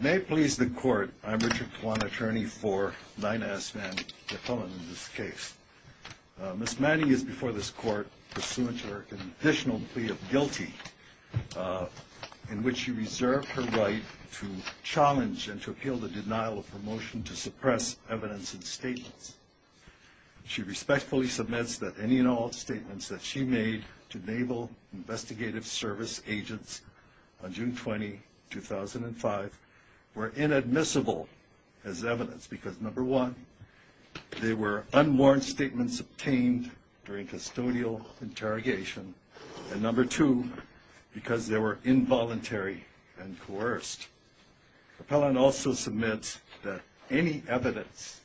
May it please the court, I'm Richard Kwan, attorney for Nina S. Manning, a felon in this case. Ms. Manning is before this court pursuant to her conditional plea of guilty, in which she reserved her right to challenge and to appeal the denial of her motion to suppress evidence and statements. She respectfully submits that any and all statements that she made to Naval Investigative Service agents on June 20, 2005 were inadmissible as evidence because, number one, they were unwarranted statements obtained during custodial interrogation, and number two, because they were involuntary and coerced. The felon also submits that any evidence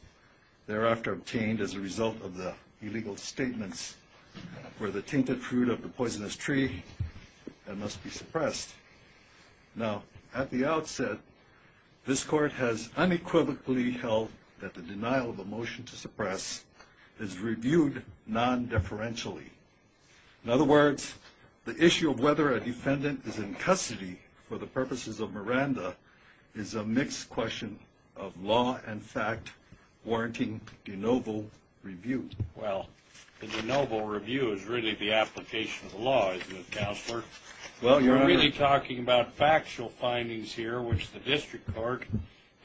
thereafter obtained as a result of the illegal statements were the tainted fruit of the poisonous tree and must be suppressed. Now, at the outset, this court has unequivocally held that the denial of a motion to suppress is reviewed non-deferentially. In other words, the issue of whether a defendant is in custody for the purposes of Miranda is a mixed question of law and fact warranting de novo review. Well, the de novo review is really the application of the law, isn't it, Counselor? Well, Your Honor. We're really talking about factual findings here, which the district court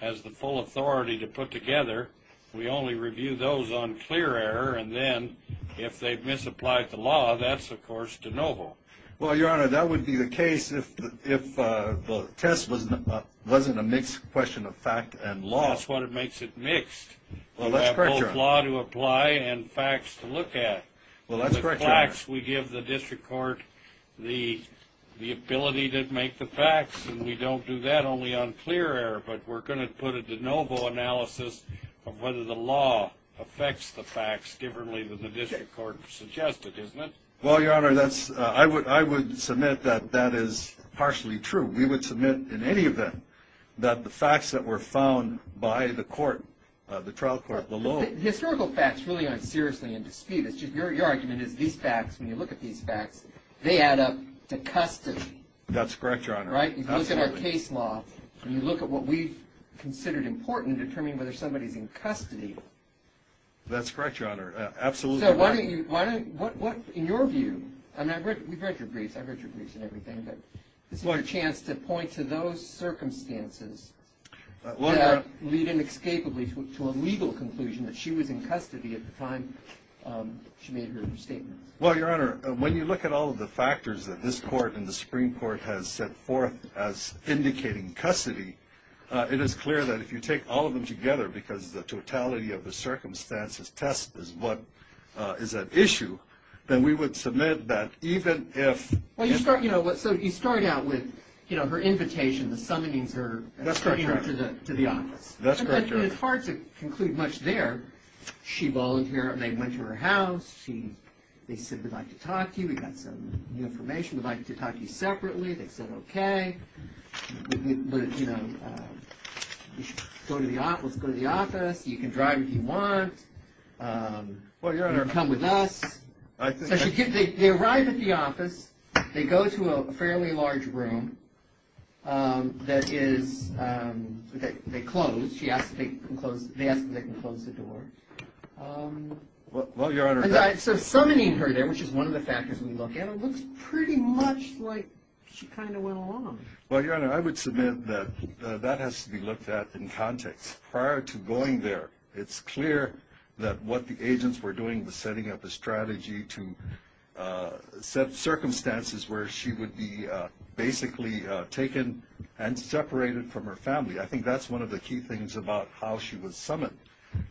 has the full authority to put together. We only review those on clear error, and then, if they've misapplied the law, that's, of course, de novo. Well, Your Honor, that would be the case if the test wasn't a mixed question of fact and law. That's what makes it mixed. Well, let's correct Your Honor. We give the district court the ability to make the facts, and we don't do that only on clear error, but we're going to put a de novo analysis of whether the law affects the facts differently than the district court suggested, isn't it? Well, Your Honor, I would submit that that is partially true. We would submit, in any event, that the facts that were found by the court, the trial court below. Historical facts really aren't seriously in dispute. It's just your argument is these facts, when you look at these facts, they add up to custody. That's correct, Your Honor. Right? Absolutely. You look at our case law, and you look at what we've considered important in determining whether somebody's in custody. That's correct, Your Honor. Absolutely right. So why don't you, in your view, and we've read your briefs, I've read your briefs and everything, but this is your chance to point to those circumstances that lead inescapably to a legal conclusion that she was in custody at the time she made her statement. Well, Your Honor, when you look at all of the factors that this court and the Supreme Court has set forth as indicating custody, it is clear that if you take all of them together, because the totality of the circumstances test is what is at issue, then we would submit that even if Well, you start, you know, so you start out with, you know, her invitation, the summonings her That's correct, Your Honor. That's correct, Your Honor. It's hard to conclude much there. She volunteered, and they went to her house. They said, we'd like to talk to you. We've got some new information. We'd like to talk to you separately. They said, okay. You know, let's go to the office. You can drive if you want. Well, Your Honor So they arrive at the office. They go to a fairly large room that is, they close. They ask if they can close the door. Well, Your Honor So summoning her there, which is one of the factors we look at, it looks pretty much like she kind of went along. Well, Your Honor, I would submit that that has to be looked at in context. Prior to going there, it's clear that what the agents were doing was setting up a strategy to set circumstances where she would be basically taken and separated from her family. I think that's one of the key things about how she was summoned.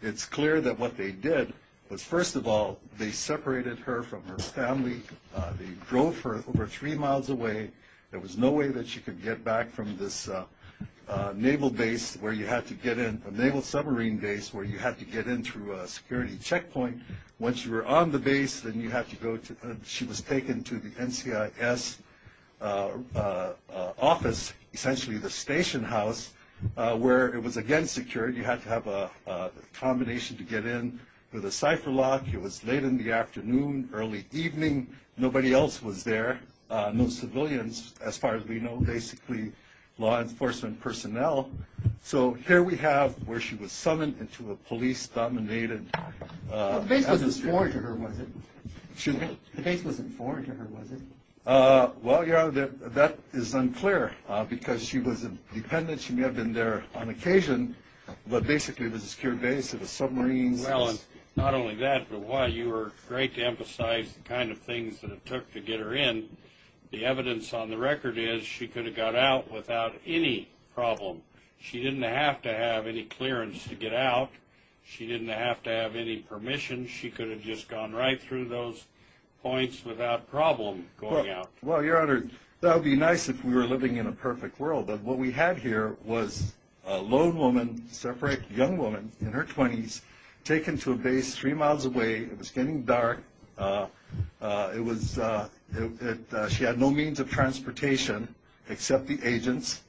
It's clear that what they did was, first of all, they separated her from her family. They drove her over three miles away. There was no way that she could get back from this naval base where you had to get in, a naval submarine base where you had to get in through a security checkpoint. Once you were on the base, then you had to go to, she was taken to the NCIS office, essentially the station house, where it was again secured. You had to have a combination to get in with a cipher lock. It was late in the afternoon, early evening. Nobody else was there. No civilians, as far as we know, basically law enforcement personnel. So here we have where she was summoned into a police-dominated… The base wasn't foreign to her, was it? The base wasn't foreign to her, was it? Well, Your Honor, that is unclear because she was a dependent. She may have been there on occasion, but basically it was a secure base. It was submarines. Well, not only that, but while you were great to emphasize the kind of things that it took to get her in, the evidence on the record is she could have got out without any problem. She didn't have to have any clearance to get out. She didn't have to have any permission. She could have just gone right through those points without problem going out. Well, Your Honor, that would be nice if we were living in a perfect world, but what we had here was a lone woman, separate young woman in her 20s, taken to a base three miles away. It was getting dark. She had no means of transportation except the agents,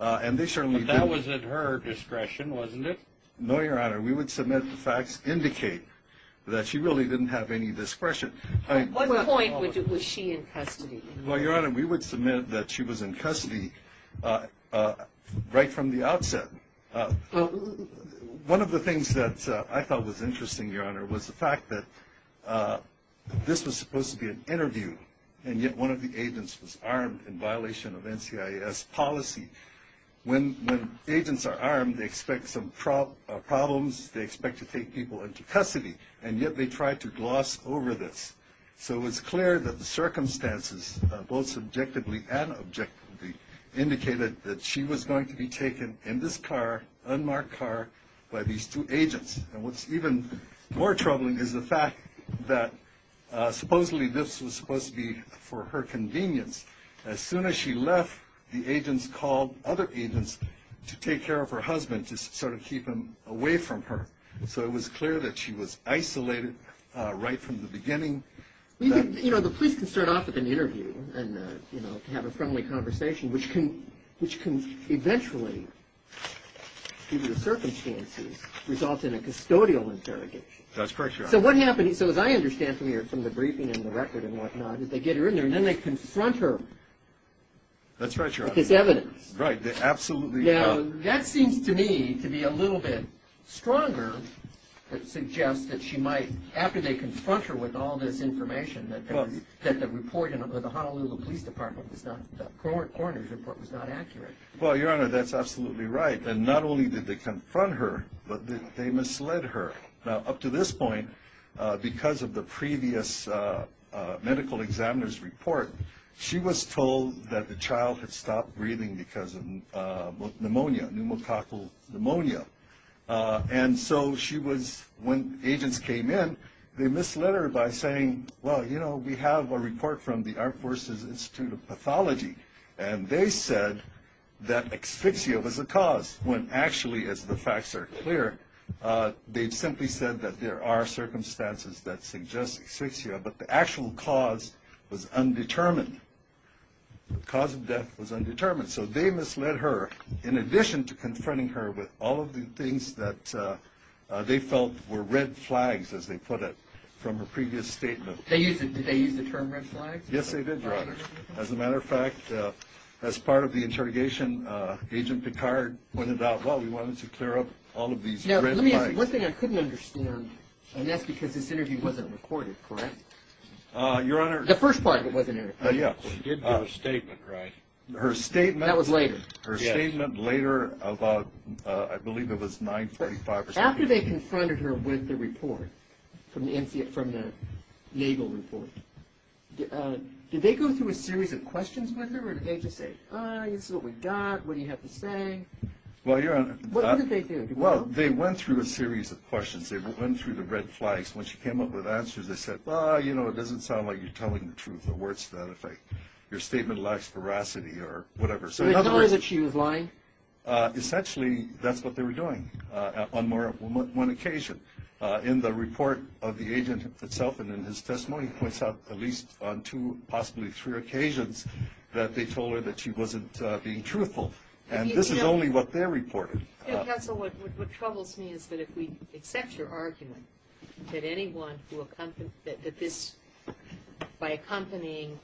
and they certainly didn't… But that was at her discretion, wasn't it? No, Your Honor. We would submit the facts indicate that she really didn't have any discretion. At what point was she in custody? Well, Your Honor, we would submit that she was in custody right from the outset. One of the things that I thought was interesting, Your Honor, was the fact that this was supposed to be an interview, and yet one of the agents was armed in violation of NCIS policy. When agents are armed, they expect some problems. They expect to take people into custody, and yet they tried to gloss over this. So it was clear that the circumstances, both subjectively and objectively, indicated that she was going to be taken in this car, unmarked car, by these two agents. And what's even more troubling is the fact that supposedly this was supposed to be for her convenience. As soon as she left, the agents called other agents to take care of her husband, to sort of keep him away from her. So it was clear that she was isolated right from the beginning. You know, the police can start off with an interview and, you know, have a friendly conversation, which can eventually, given the circumstances, result in a custodial interrogation. That's correct, Your Honor. So what happened, so as I understand from the briefing and the record and whatnot, is they get her in there, and then they confront her with this evidence. That's right, Your Honor. Right. Absolutely. Now, that seems to me to be a little bit stronger that suggests that she might, after they confront her with all this information, that the report in the Honolulu Police Department was not, the coroner's report was not accurate. Well, Your Honor, that's absolutely right. And not only did they confront her, but they misled her. Now, up to this point, because of the previous medical examiner's report, she was told that the child had stopped breathing because of pneumonia, pneumococcal pneumonia. And so she was, when agents came in, they misled her by saying, well, you know, we have a report from the Armed Forces Institute of Pathology, and they said that asphyxia was a cause, when actually, as the facts are clear, they simply said that there are circumstances that suggest asphyxia, but the actual cause was undetermined. The cause of death was undetermined. So they misled her, in addition to confronting her with all of the things that they felt were red flags, as they put it, from her previous statement. Did they use the term red flags? Yes, they did, Your Honor. As a matter of fact, as part of the interrogation, Agent Picard pointed out, well, we wanted to clear up all of these red flags. Now, let me ask you, one thing I couldn't understand, and that's because this interview wasn't recorded, correct? Your Honor. The first part of it wasn't recorded. Yes. She did give a statement, right? Her statement. That was later. Her statement later about, I believe it was 945 or something. Did they go through a series of questions with her, or did they just say, ah, this is what we've got, what do you have to say? Well, Your Honor. What did they do? Well, they went through a series of questions. They went through the red flags. When she came up with answers, they said, well, you know, it doesn't sound like you're telling the truth. In other words, your statement lacks veracity or whatever. So in other words, she was lying? Essentially, that's what they were doing on one occasion. In the report of the agent itself and in his testimony, he points out at least on two, possibly three occasions, that they told her that she wasn't being truthful. And this is only what they reported. Counsel, what troubles me is that if we accept your argument, that anyone who, that this, by accompanying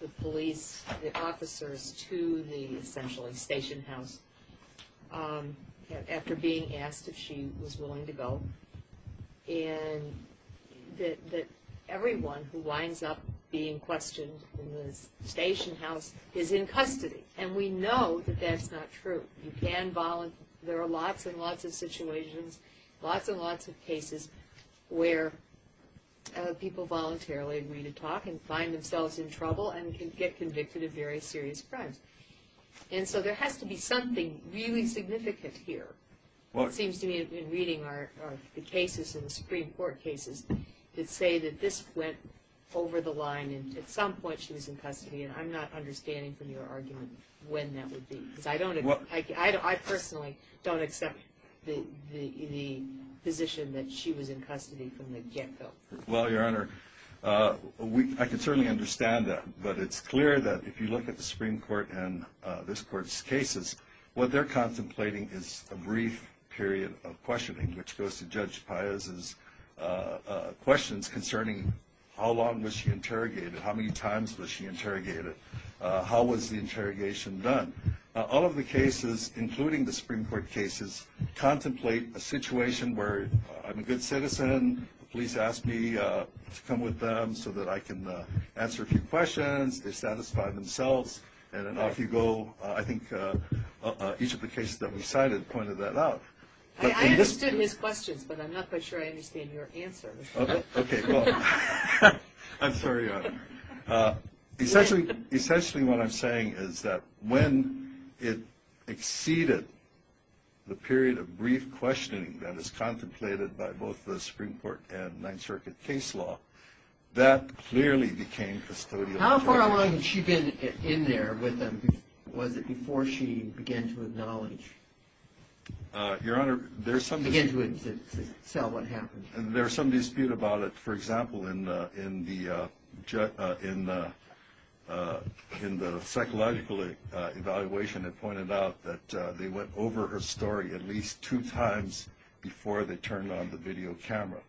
the police, the officers, to the, essentially, station house, after being asked if she was willing to go, and that everyone who winds up being questioned in the station house is in custody. And we know that that's not true. You can, there are lots and lots of situations, lots and lots of cases where people voluntarily agree to talk and find themselves in trouble and can get convicted of very serious crimes. And so there has to be something really significant here. It seems to me in reading the cases in the Supreme Court cases that say that this went over the line and at some point she was in custody. And I'm not understanding from your argument when that would be. Because I don't, I personally don't accept the position that she was in custody from the get-go. Well, Your Honor, I can certainly understand that. But it's clear that if you look at the Supreme Court and this Court's cases, what they're contemplating is a brief period of questioning, which goes to Judge Pius's questions concerning how long was she interrogated, how many times was she interrogated, how was the interrogation done. All of the cases, including the Supreme Court cases, contemplate a situation where I'm a good citizen, the police ask me to come with them so that I can answer a few questions, they satisfy themselves, and then off you go. I think each of the cases that we cited pointed that out. I understood his questions, but I'm not quite sure I understand your answers. Okay, well, I'm sorry, Your Honor. Essentially what I'm saying is that when it exceeded the period of brief questioning that is contemplated by both the Supreme Court and Ninth Circuit case law, that clearly became custodial. How far along had she been in there with them? Was it before she began to acknowledge? Your Honor, there's some dispute about it. For example, in the psychological evaluation, it pointed out that they went over her story at least two times before they turned on the video camera.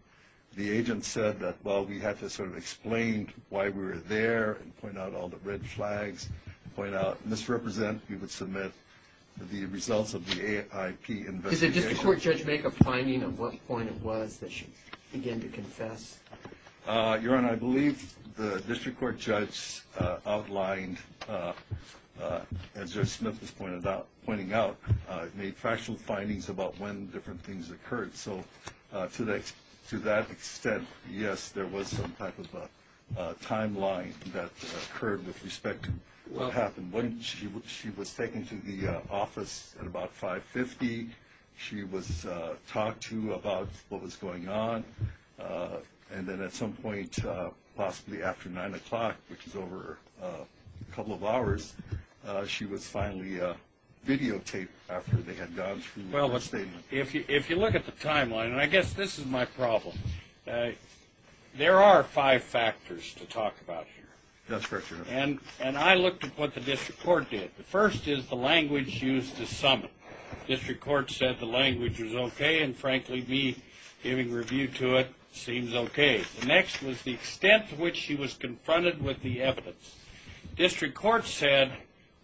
The agent said that, well, we had to sort of explain why we were there and point out all the red flags and point out misrepresent. We would submit the results of the AIP investigation. Did the district court judge make a finding of what point it was that she began to confess? Your Honor, I believe the district court judge outlined, as Judge Smith was pointing out, made factual findings about when different things occurred. So to that extent, yes, there was some type of a timeline that occurred with respect to what happened. She was taken to the office at about 5.50. She was talked to about what was going on. And then at some point, possibly after 9 o'clock, which is over a couple of hours, she was finally videotaped after they had gone through her statement. Well, if you look at the timeline, and I guess this is my problem, there are five factors to talk about here. That's correct, Your Honor. And I looked at what the district court did. The first is the language used to sum it. The district court said the language was okay, and frankly, me giving review to it seems okay. The next was the extent to which she was confronted with the evidence. The district court said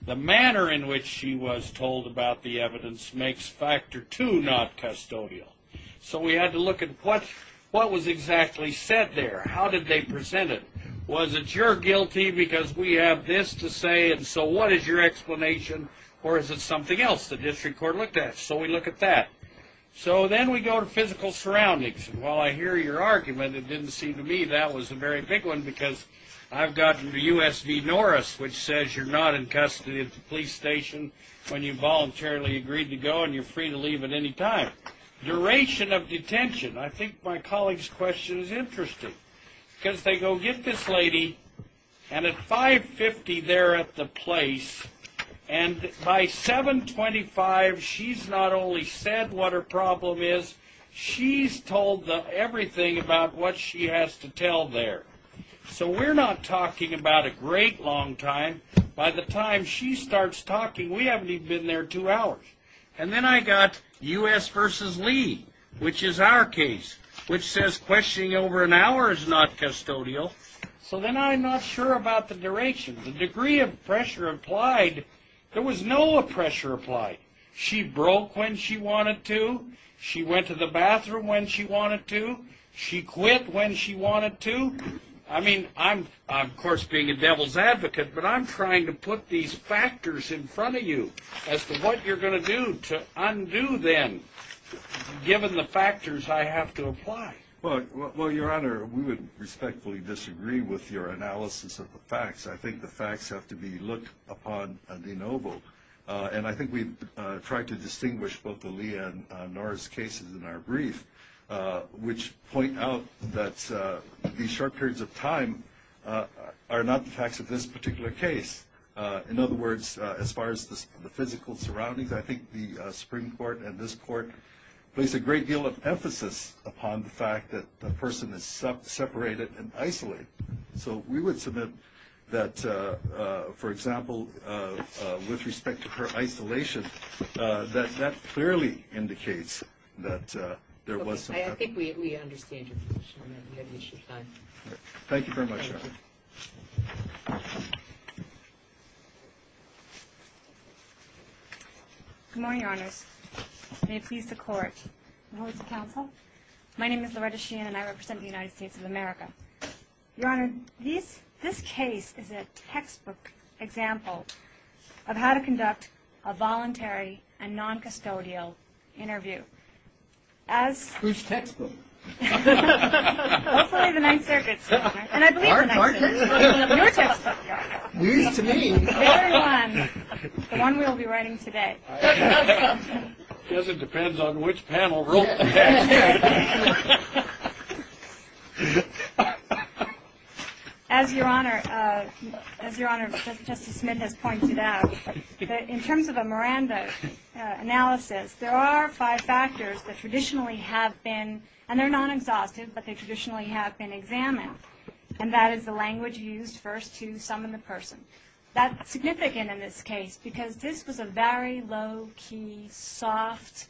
the manner in which she was told about the evidence makes factor two not custodial. So we had to look at what was exactly said there. How did they present it? Was it you're guilty because we have this to say, and so what is your explanation, or is it something else the district court looked at? So we look at that. So then we go to physical surroundings. And while I hear your argument, it didn't seem to me that was a very big one because I've gotten to U.S. v. Norris, which says you're not in custody at the police station when you voluntarily agreed to go and you're free to leave at any time. Duration of detention. I think my colleague's question is interesting because they go get this lady, and at 5.50 they're at the place, and by 7.25 she's not only said what her problem is, she's told everything about what she has to tell there. So we're not talking about a great long time. By the time she starts talking, we haven't even been there two hours. And then I got U.S. v. Lee, which is our case, which says questioning over an hour is not custodial. So then I'm not sure about the duration. The degree of pressure applied, there was no pressure applied. She broke when she wanted to. She went to the bathroom when she wanted to. She quit when she wanted to. I mean, I'm, of course, being a devil's advocate, but I'm trying to put these factors in front of you as to what you're going to do to undo them given the factors I have to apply. Well, Your Honor, we would respectfully disagree with your analysis of the facts. I think the facts have to be looked upon de novo, and I think we've tried to distinguish both the Lee and Norris cases in our brief, which point out that these short periods of time are not the facts of this particular case. In other words, as far as the physical surroundings, I think the Supreme Court and this Court place a great deal of emphasis upon the fact that the person is separated and isolated. So we would submit that, for example, with respect to her isolation, that that clearly indicates that there was some – Okay. I think we understand your position on that. We have issued time. Thank you very much, Your Honor. Thank you. Good morning, Your Honors. May it please the Court and all of the Counsel. My name is Loretta Sheehan, and I represent the United States of America. Your Honor, this case is a textbook example of how to conduct a voluntary and noncustodial interview. Whose textbook? Hopefully the Ninth Circuit's, Your Honor. And I believe the Ninth Circuit's. Your textbook, Your Honor. News to me. The one we'll be writing today. I guess it depends on which panel wrote the textbook. As Your Honor, Justice Smith has pointed out, in terms of a Miranda analysis, there are five factors that traditionally have been – and they're non-exhaustive, but they traditionally have been examined, and that is the language used first to summon the person. That's significant in this case because this was a very low-key, soft,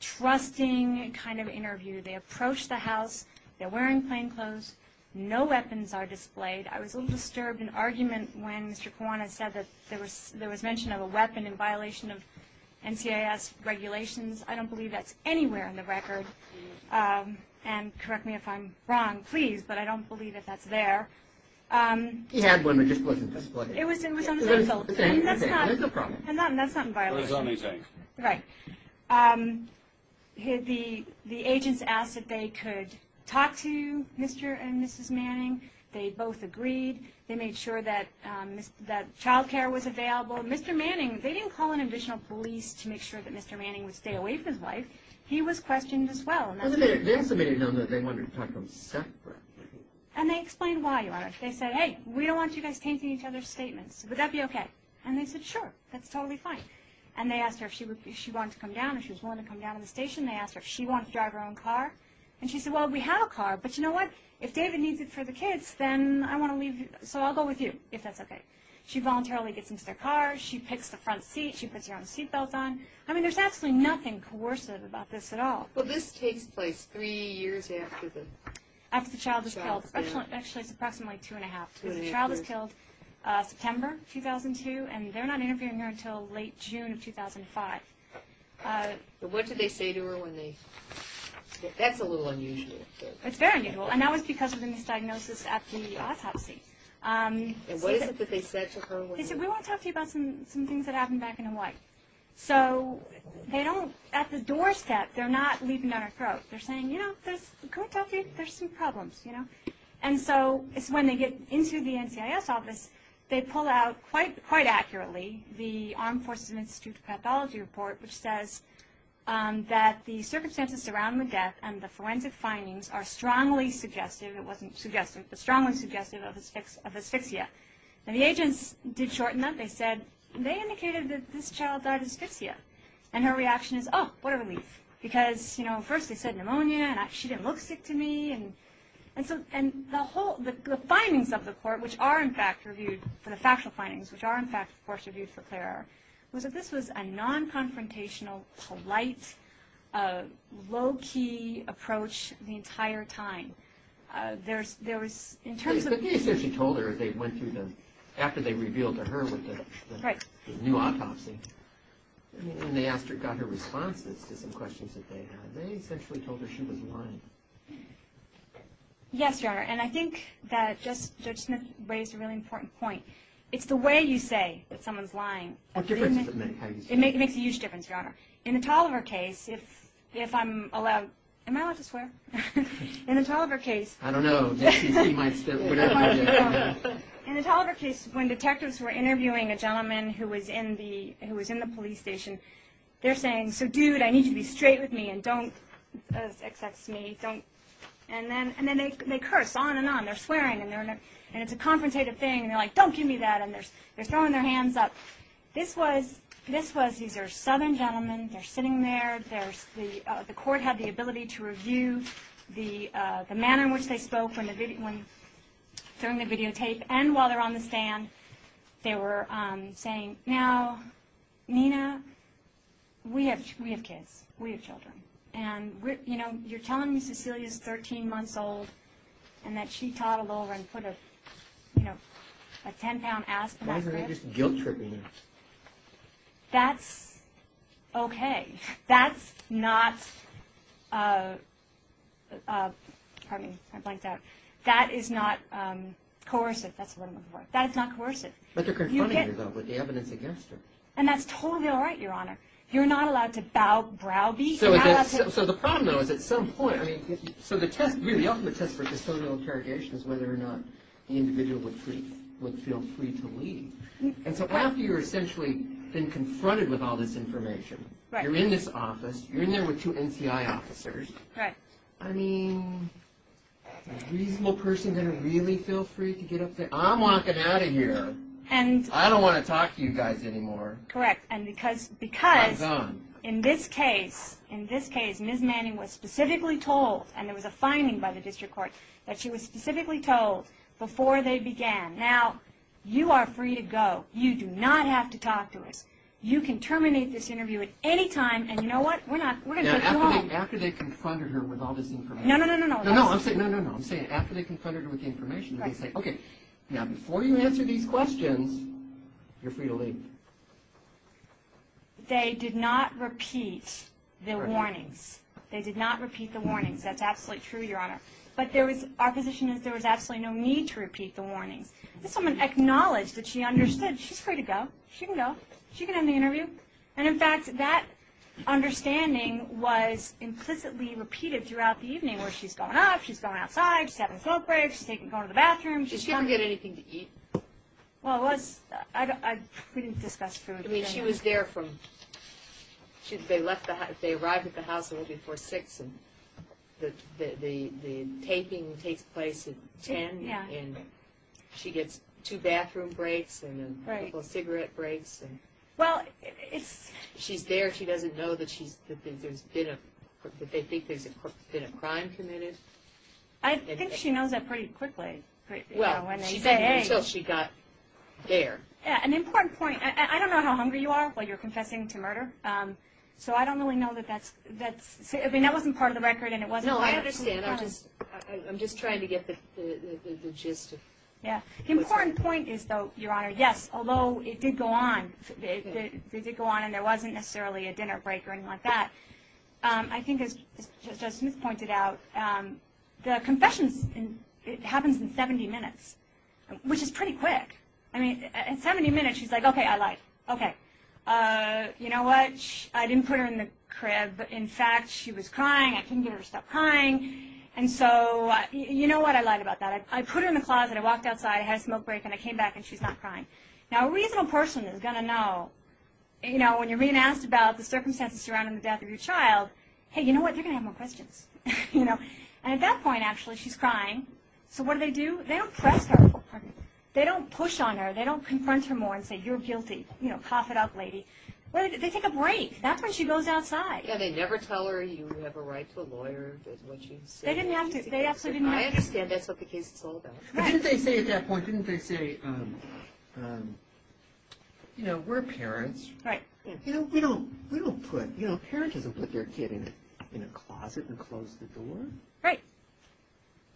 trusting kind of interview. They approach the house. They're wearing plain clothes. No weapons are displayed. I was a little disturbed in argument when Mr. Kiwanis said that there was mention of a weapon in violation of NCIS regulations. I don't believe that's anywhere in the record. And correct me if I'm wrong, please, but I don't believe that that's there. He had one that just wasn't displayed. It was on the table. And that's not in violation. Right. The agents asked if they could talk to Mr. and Mrs. Manning. They both agreed. They made sure that child care was available. Mr. Manning, they didn't call an additional police to make sure that Mr. Manning would stay away from his wife. He was questioned as well. They also made it known that they wanted to talk to him separately. And they explained why, Your Honor. They said, hey, we don't want you guys tainting each other's statements. Would that be okay? And they said, sure, that's totally fine. And they asked her if she wanted to come down, if she was willing to come down to the station. They asked her if she wanted to drive her own car. And she said, well, we have a car, but you know what? If David needs it for the kids, then I want to leave you. So I'll go with you, if that's okay. She voluntarily gets into their car. She picks the front seat. She puts her own seat belt on. I mean, there's absolutely nothing coercive about this at all. Well, this takes place three years after the child was killed. Actually, it's approximately two and a half. The child was killed September 2002. And they're not interviewing her until late June of 2005. What did they say to her when they? That's a little unusual. It's very unusual. And that was because of the misdiagnosis at the autopsy. And what is it that they said to her? They said, we want to talk to you about some things that happened back in Hawaii. So at the doorstep, they're not leaping down her throat. They're saying, you know, can we talk to you? There's some problems, you know. And so it's when they get into the NCIS office, they pull out quite accurately the Armed Forces and Institute of Pathology report, which says that the circumstances surrounding the death and the forensic findings are strongly suggestive. It wasn't suggestive, but strongly suggestive of asphyxia. And the agents did shorten that. They said, they indicated that this child died of asphyxia. And her reaction is, oh, what a relief. Because, you know, first they said pneumonia, and she didn't look sick to me. And the findings of the court, which are, in fact, reviewed for the factual findings, which are, in fact, of course, reviewed for CLAIR, was that this was a non-confrontational, polite, low-key approach the entire time. There was, in terms of. But they essentially told her as they went through the, after they revealed to her what the. Right. The new autopsy. And they asked her, got her responses to some questions that they had. They essentially told her she was lying. Yes, Your Honor. And I think that Judge Smith raised a really important point. It's the way you say that someone's lying. What difference does it make? It makes a huge difference, Your Honor. In the Tolliver case, if I'm allowed, am I allowed to swear? In the Tolliver case. I don't know. In the Tolliver case, when detectives were interviewing a gentleman who was in the police station, they're saying, so, dude, I need you to be straight with me and don't XX me. And then they curse on and on. They're swearing, and it's a confrontative thing. And they're like, don't give me that. And they're throwing their hands up. This was, these are southern gentlemen. They're sitting there. The court had the ability to review the manner in which they spoke during the videotape. And while they're on the stand, they were saying, now, Nina, we have kids. We have children. And, you know, you're telling me Cecilia's 13 months old and that she toddled over and put a, you know, a 10-pound aspen on her head? Why isn't it just guilt-tripping? That's okay. That's not, pardon me, I blanked out. That is not coercive. That's what I'm looking for. That is not coercive. But they're confronting you, though, with the evidence against her. And that's totally all right, Your Honor. You're not allowed to bow, browbeat. So the problem, though, is at some point, I mean, so the test, really, the ultimate test for custodial interrogation is whether or not the individual would feel free to leave. And so after you're essentially been confronted with all this information, you're in this office, you're in there with two NCI officers. Right. I mean, is a reasonable person going to really feel free to get up there? I'm walking out of here. I don't want to talk to you guys anymore. Correct. And because in this case, in this case, Ms. Manning was specifically told, and there was a finding by the district court, that she was specifically told before they began, now you are free to go. You do not have to talk to us. You can terminate this interview at any time, and you know what? We're not, we're going to take you home. After they confronted her with all this information. No, no, no, no, no. No, I'm saying, no, no, no. I'm saying after they confronted her with the information, they say, okay, now before you answer these questions, you're free to leave. They did not repeat the warnings. They did not repeat the warnings. That's absolutely true, Your Honor. But there was, our position is there was absolutely no need to repeat the warnings. This woman acknowledged that she understood. She's free to go. She can go. She can end the interview. And, in fact, that understanding was implicitly repeated throughout the evening, where she's going out, she's going outside, she's having a smoke break, she's going to the bathroom. Did she ever get anything to eat? Well, it was, we didn't discuss food. I mean, she was there from, they left, they arrived at the house a little before 6, and the taping takes place at 10, and she gets two bathroom breaks and a couple cigarette breaks. Well, it's. She's there. She doesn't know that she's, that there's been a, that they think there's been a crime committed. I think she knows that pretty quickly. Well, she said until she got there. An important point. I don't know how hungry you are while you're confessing to murder, so I don't really know that that's, I mean, that wasn't part of the record and it wasn't. No, I understand. I'm just trying to get the gist of. Yeah. The important point is, though, Your Honor, yes, although it did go on, it did go on and there wasn't necessarily a dinner break or anything like that. I think, as Justice Smith pointed out, the confession happens in 70 minutes, which is pretty quick. I mean, in 70 minutes, she's like, okay, I lied. Okay. You know what? I didn't put her in the crib. In fact, she was crying. I couldn't get her to stop crying, and so you know what? I lied about that. I put her in the closet. I walked outside. I had a smoke break, and I came back, and she's not crying. Now, a reasonable person is going to know, you know, when you're being asked about the circumstances surrounding the death of your child, hey, you know what? You're going to have more questions, you know, and at that point, actually, she's crying, so what do they do? They don't press her. They don't push on her. They don't confront her more and say, you're guilty, you know, cough it up, lady. They take a break. That's when she goes outside. Yeah, they never tell her you have a right to a lawyer. That's what she said. They didn't have to. They absolutely didn't have to. I understand. That's what the case is all about. But didn't they say at that point, didn't they say, you know, we're parents. Right. You know, we don't put, you know, parents don't put their kid in a closet and close the door. Right.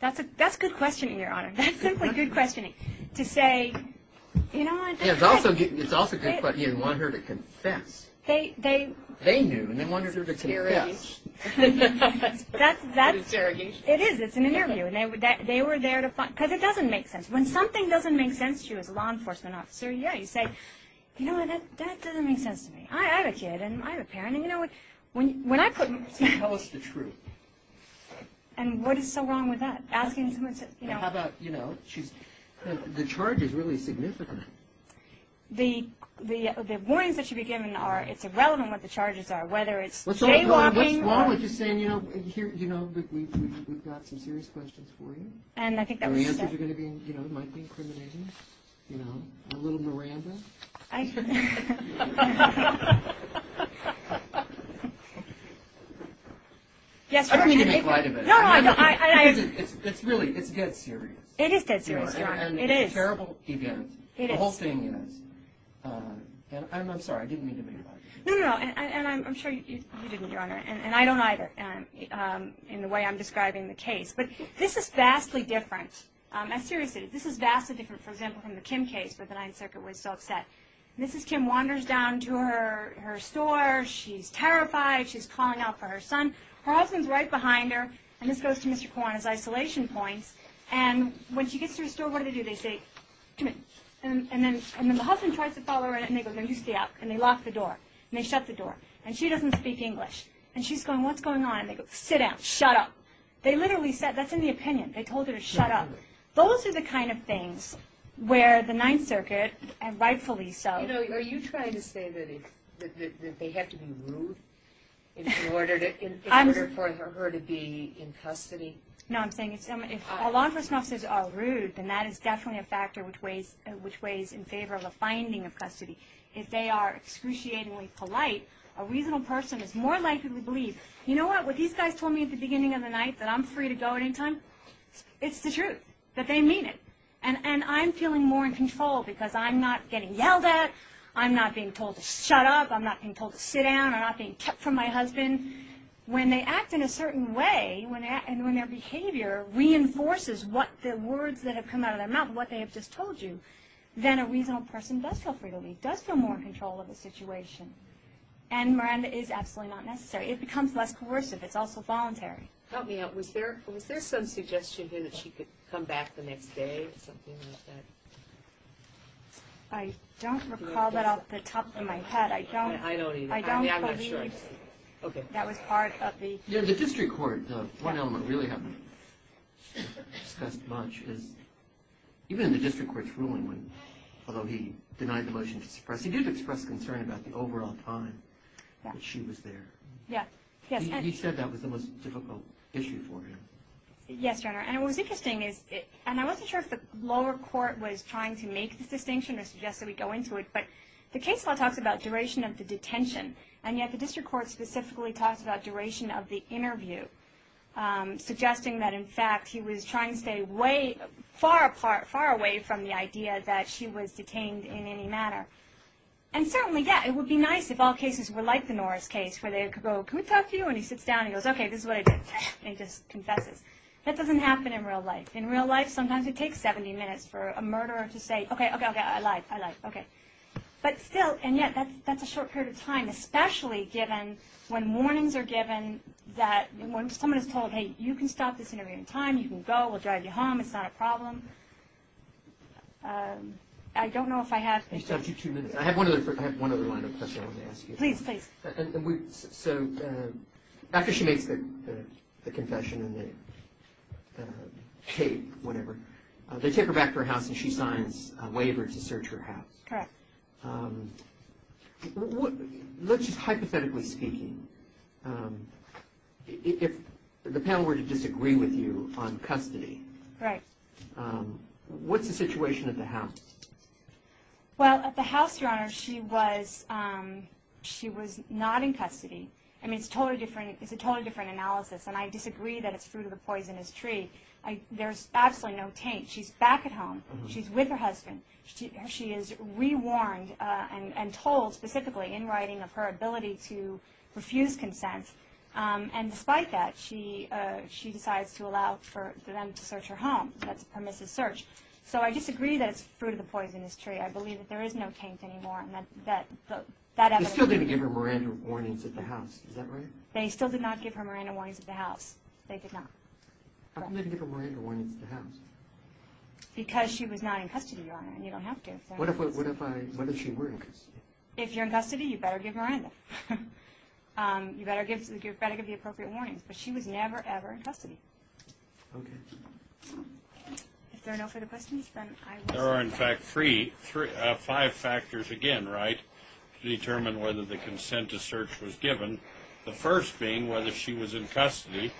That's a good question, Your Honor. That's simply good questioning to say, you know what? It's also good, but you didn't want her to confess. They knew, and they wanted her to confess. That's interrogation. It is. It's an interview, and they were there to find, because it doesn't make sense. When something doesn't make sense to you as a law enforcement officer, yeah, you say, you know what? That doesn't make sense to me. I have a kid, and I have a parent, and, you know, when I put. Tell us the truth. And what is so wrong with that? Asking someone to, you know. How about, you know, the charge is really significant. The warnings that should be given are it's irrelevant what the charges are, whether it's jaywalking. What's wrong with just saying, you know, we've got some serious questions for you. And I think that was said. And the answers are going to be, you know, might be incriminating, you know, a little Miranda. I. Yes, Your Honor. I don't mean to make light of it. No, no, I don't. It's really, it's dead serious. It is dead serious, Your Honor. It is. And it's a terrible event. It is. The whole thing is. And I'm sorry. I didn't mean to make light of it. No, no, no. And I'm sure you didn't, Your Honor, and I don't either in the way I'm describing the case. But this is vastly different. I'm serious. This is vastly different, for example, from the Kim case where the Ninth Circuit was so upset. Mrs. Kim wanders down to her store. She's terrified. She's calling out for her son. Her husband's right behind her. And this goes to Mr. Corn's isolation point. And when she gets to her store, what do they do? They say, come in. And then the husband tries to follow her in, and they go, no, you stay out. And they lock the door. And they shut the door. And she doesn't speak English. And she's going, what's going on? And they go, sit down. Shut up. They literally said, that's in the opinion. They told her to shut up. Those are the kind of things where the Ninth Circuit, and rightfully so. Are you trying to say that they have to be rude in order for her to be in custody? No, I'm saying if a law enforcement officer is rude, then that is definitely a factor which weighs in favor of a finding of custody. If they are excruciatingly polite, a reasonable person is more likely to believe, you know what, what these guys told me at the beginning of the night, that I'm free to go at any time, it's the truth. That they mean it. And I'm feeling more in control because I'm not getting yelled at. I'm not being told to shut up. I'm not being told to sit down. I'm not being kept from my husband. When they act in a certain way, when their behavior reinforces what the words that have come out of their mouth, what they have just told you, then a reasonable person does feel free to leave, does feel more in control of the situation. And Miranda is absolutely not necessary. It becomes less coercive. It's also voluntary. Help me out. Was there some suggestion here that she could come back the next day or something like that? I don't recall that off the top of my head. I don't. I don't either. I'm not sure. Okay. That was part of the... Yeah, the district court, one element I really haven't discussed much is, even in the district court's ruling, although he denied the motion to suppress, he did express concern about the overall time that she was there. Yeah. He said that was the most difficult issue for him. Yes, Your Honor, and what was interesting is, and I wasn't sure if the lower court was trying to make this distinction or suggest that we go into it, but the case law talks about duration of the detention, and yet the district court specifically talks about duration of the interview, suggesting that, in fact, he was trying to stay far away from the idea that she was detained in any manner. And certainly, yeah, it would be nice if all cases were like the Norris case, where they could go, can we talk to you? And he sits down and he goes, okay, this is what I did, and he just confesses. That doesn't happen in real life. In real life, sometimes it takes 70 minutes for a murderer to say, okay, okay, okay, I lied, I lied, okay. But still, and yet that's a short period of time, especially given when warnings are given that when someone is told, hey, you can stop this interview in time, you can go, we'll drive you home, it's not a problem. I don't know if I have... You still have two minutes. I have one other question I wanted to ask you. Please, please. So after she makes the confession and they take whatever, they take her back to her house and she signs a waiver to search her house. Correct. Let's just hypothetically speak, if the panel were to disagree with you on custody. Right. What's the situation at the house? Well, at the house, Your Honor, she was not in custody. I mean, it's a totally different analysis, and I disagree that it's fruit of the poisonous tree. There's absolutely no taint. She's back at home. She's with her husband. She is rewarned and told specifically in writing of her ability to refuse consent. And despite that, she decides to allow for them to search her home. That's a permissive search. So I disagree that it's fruit of the poisonous tree. I believe that there is no taint anymore. They still didn't give her Miranda warnings at the house. Is that right? They still did not give her Miranda warnings at the house. They did not. How come they didn't give her Miranda warnings at the house? Because she was not in custody, Your Honor, and you don't have to. What if she were in custody? If you're in custody, you better give Miranda. You better give the appropriate warnings. But she was never, ever in custody. Okay. If there are no further questions, then I will stop. There are, in fact, five factors, again, right, to determine whether the consent to search was given, the first being whether she was in custody,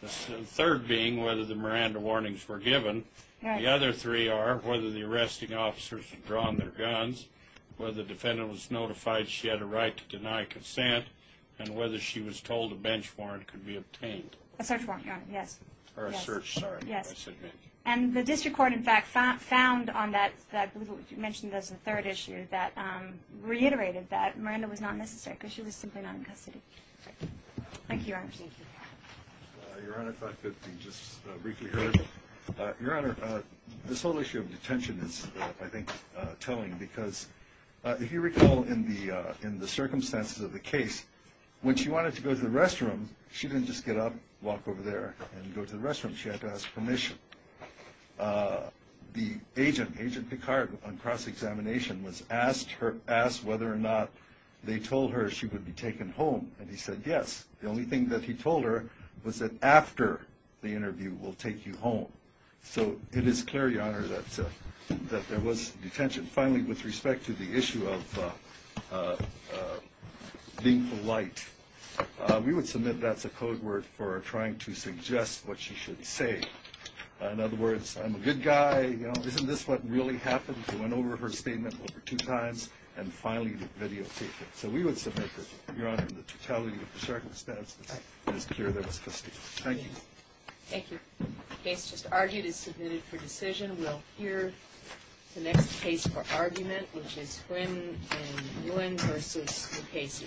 the third being whether the Miranda warnings were given. The other three are whether the arresting officers had drawn their guns, whether the defendant was notified she had a right to deny consent, and whether she was told a bench warrant could be obtained. A search warrant, Your Honor, yes. Or a search, sorry. Yes. And the district court, in fact, found on that, I believe what you mentioned, that's the third issue, that reiterated that Miranda was not necessary because she was simply not in custody. Thank you, Your Honor. Thank you. Your Honor, if I could be just briefly heard. Your Honor, this whole issue of detention is, I think, telling because if you recall in the circumstances of the case, when she wanted to go to the restroom, she didn't just get up, walk over there, and go to the restroom. She had to ask permission. The agent, Agent Picard, on cross-examination was asked whether or not they told her she would be taken home, and he said yes. The only thing that he told her was that after the interview we'll take you home. So it is clear, Your Honor, that there was detention. Finally, with respect to the issue of being polite, we would submit that's a code word for trying to suggest what she should say. In other words, I'm a good guy. Isn't this what really happened? She went over her statement over two times and finally videotaped it. So we would submit that, Your Honor, the totality of the circumstances is clear that it was custody. Thank you. Thank you. The case just argued is submitted for decision. We'll hear the next case for argument, which is Nguyen v. Lucchesi.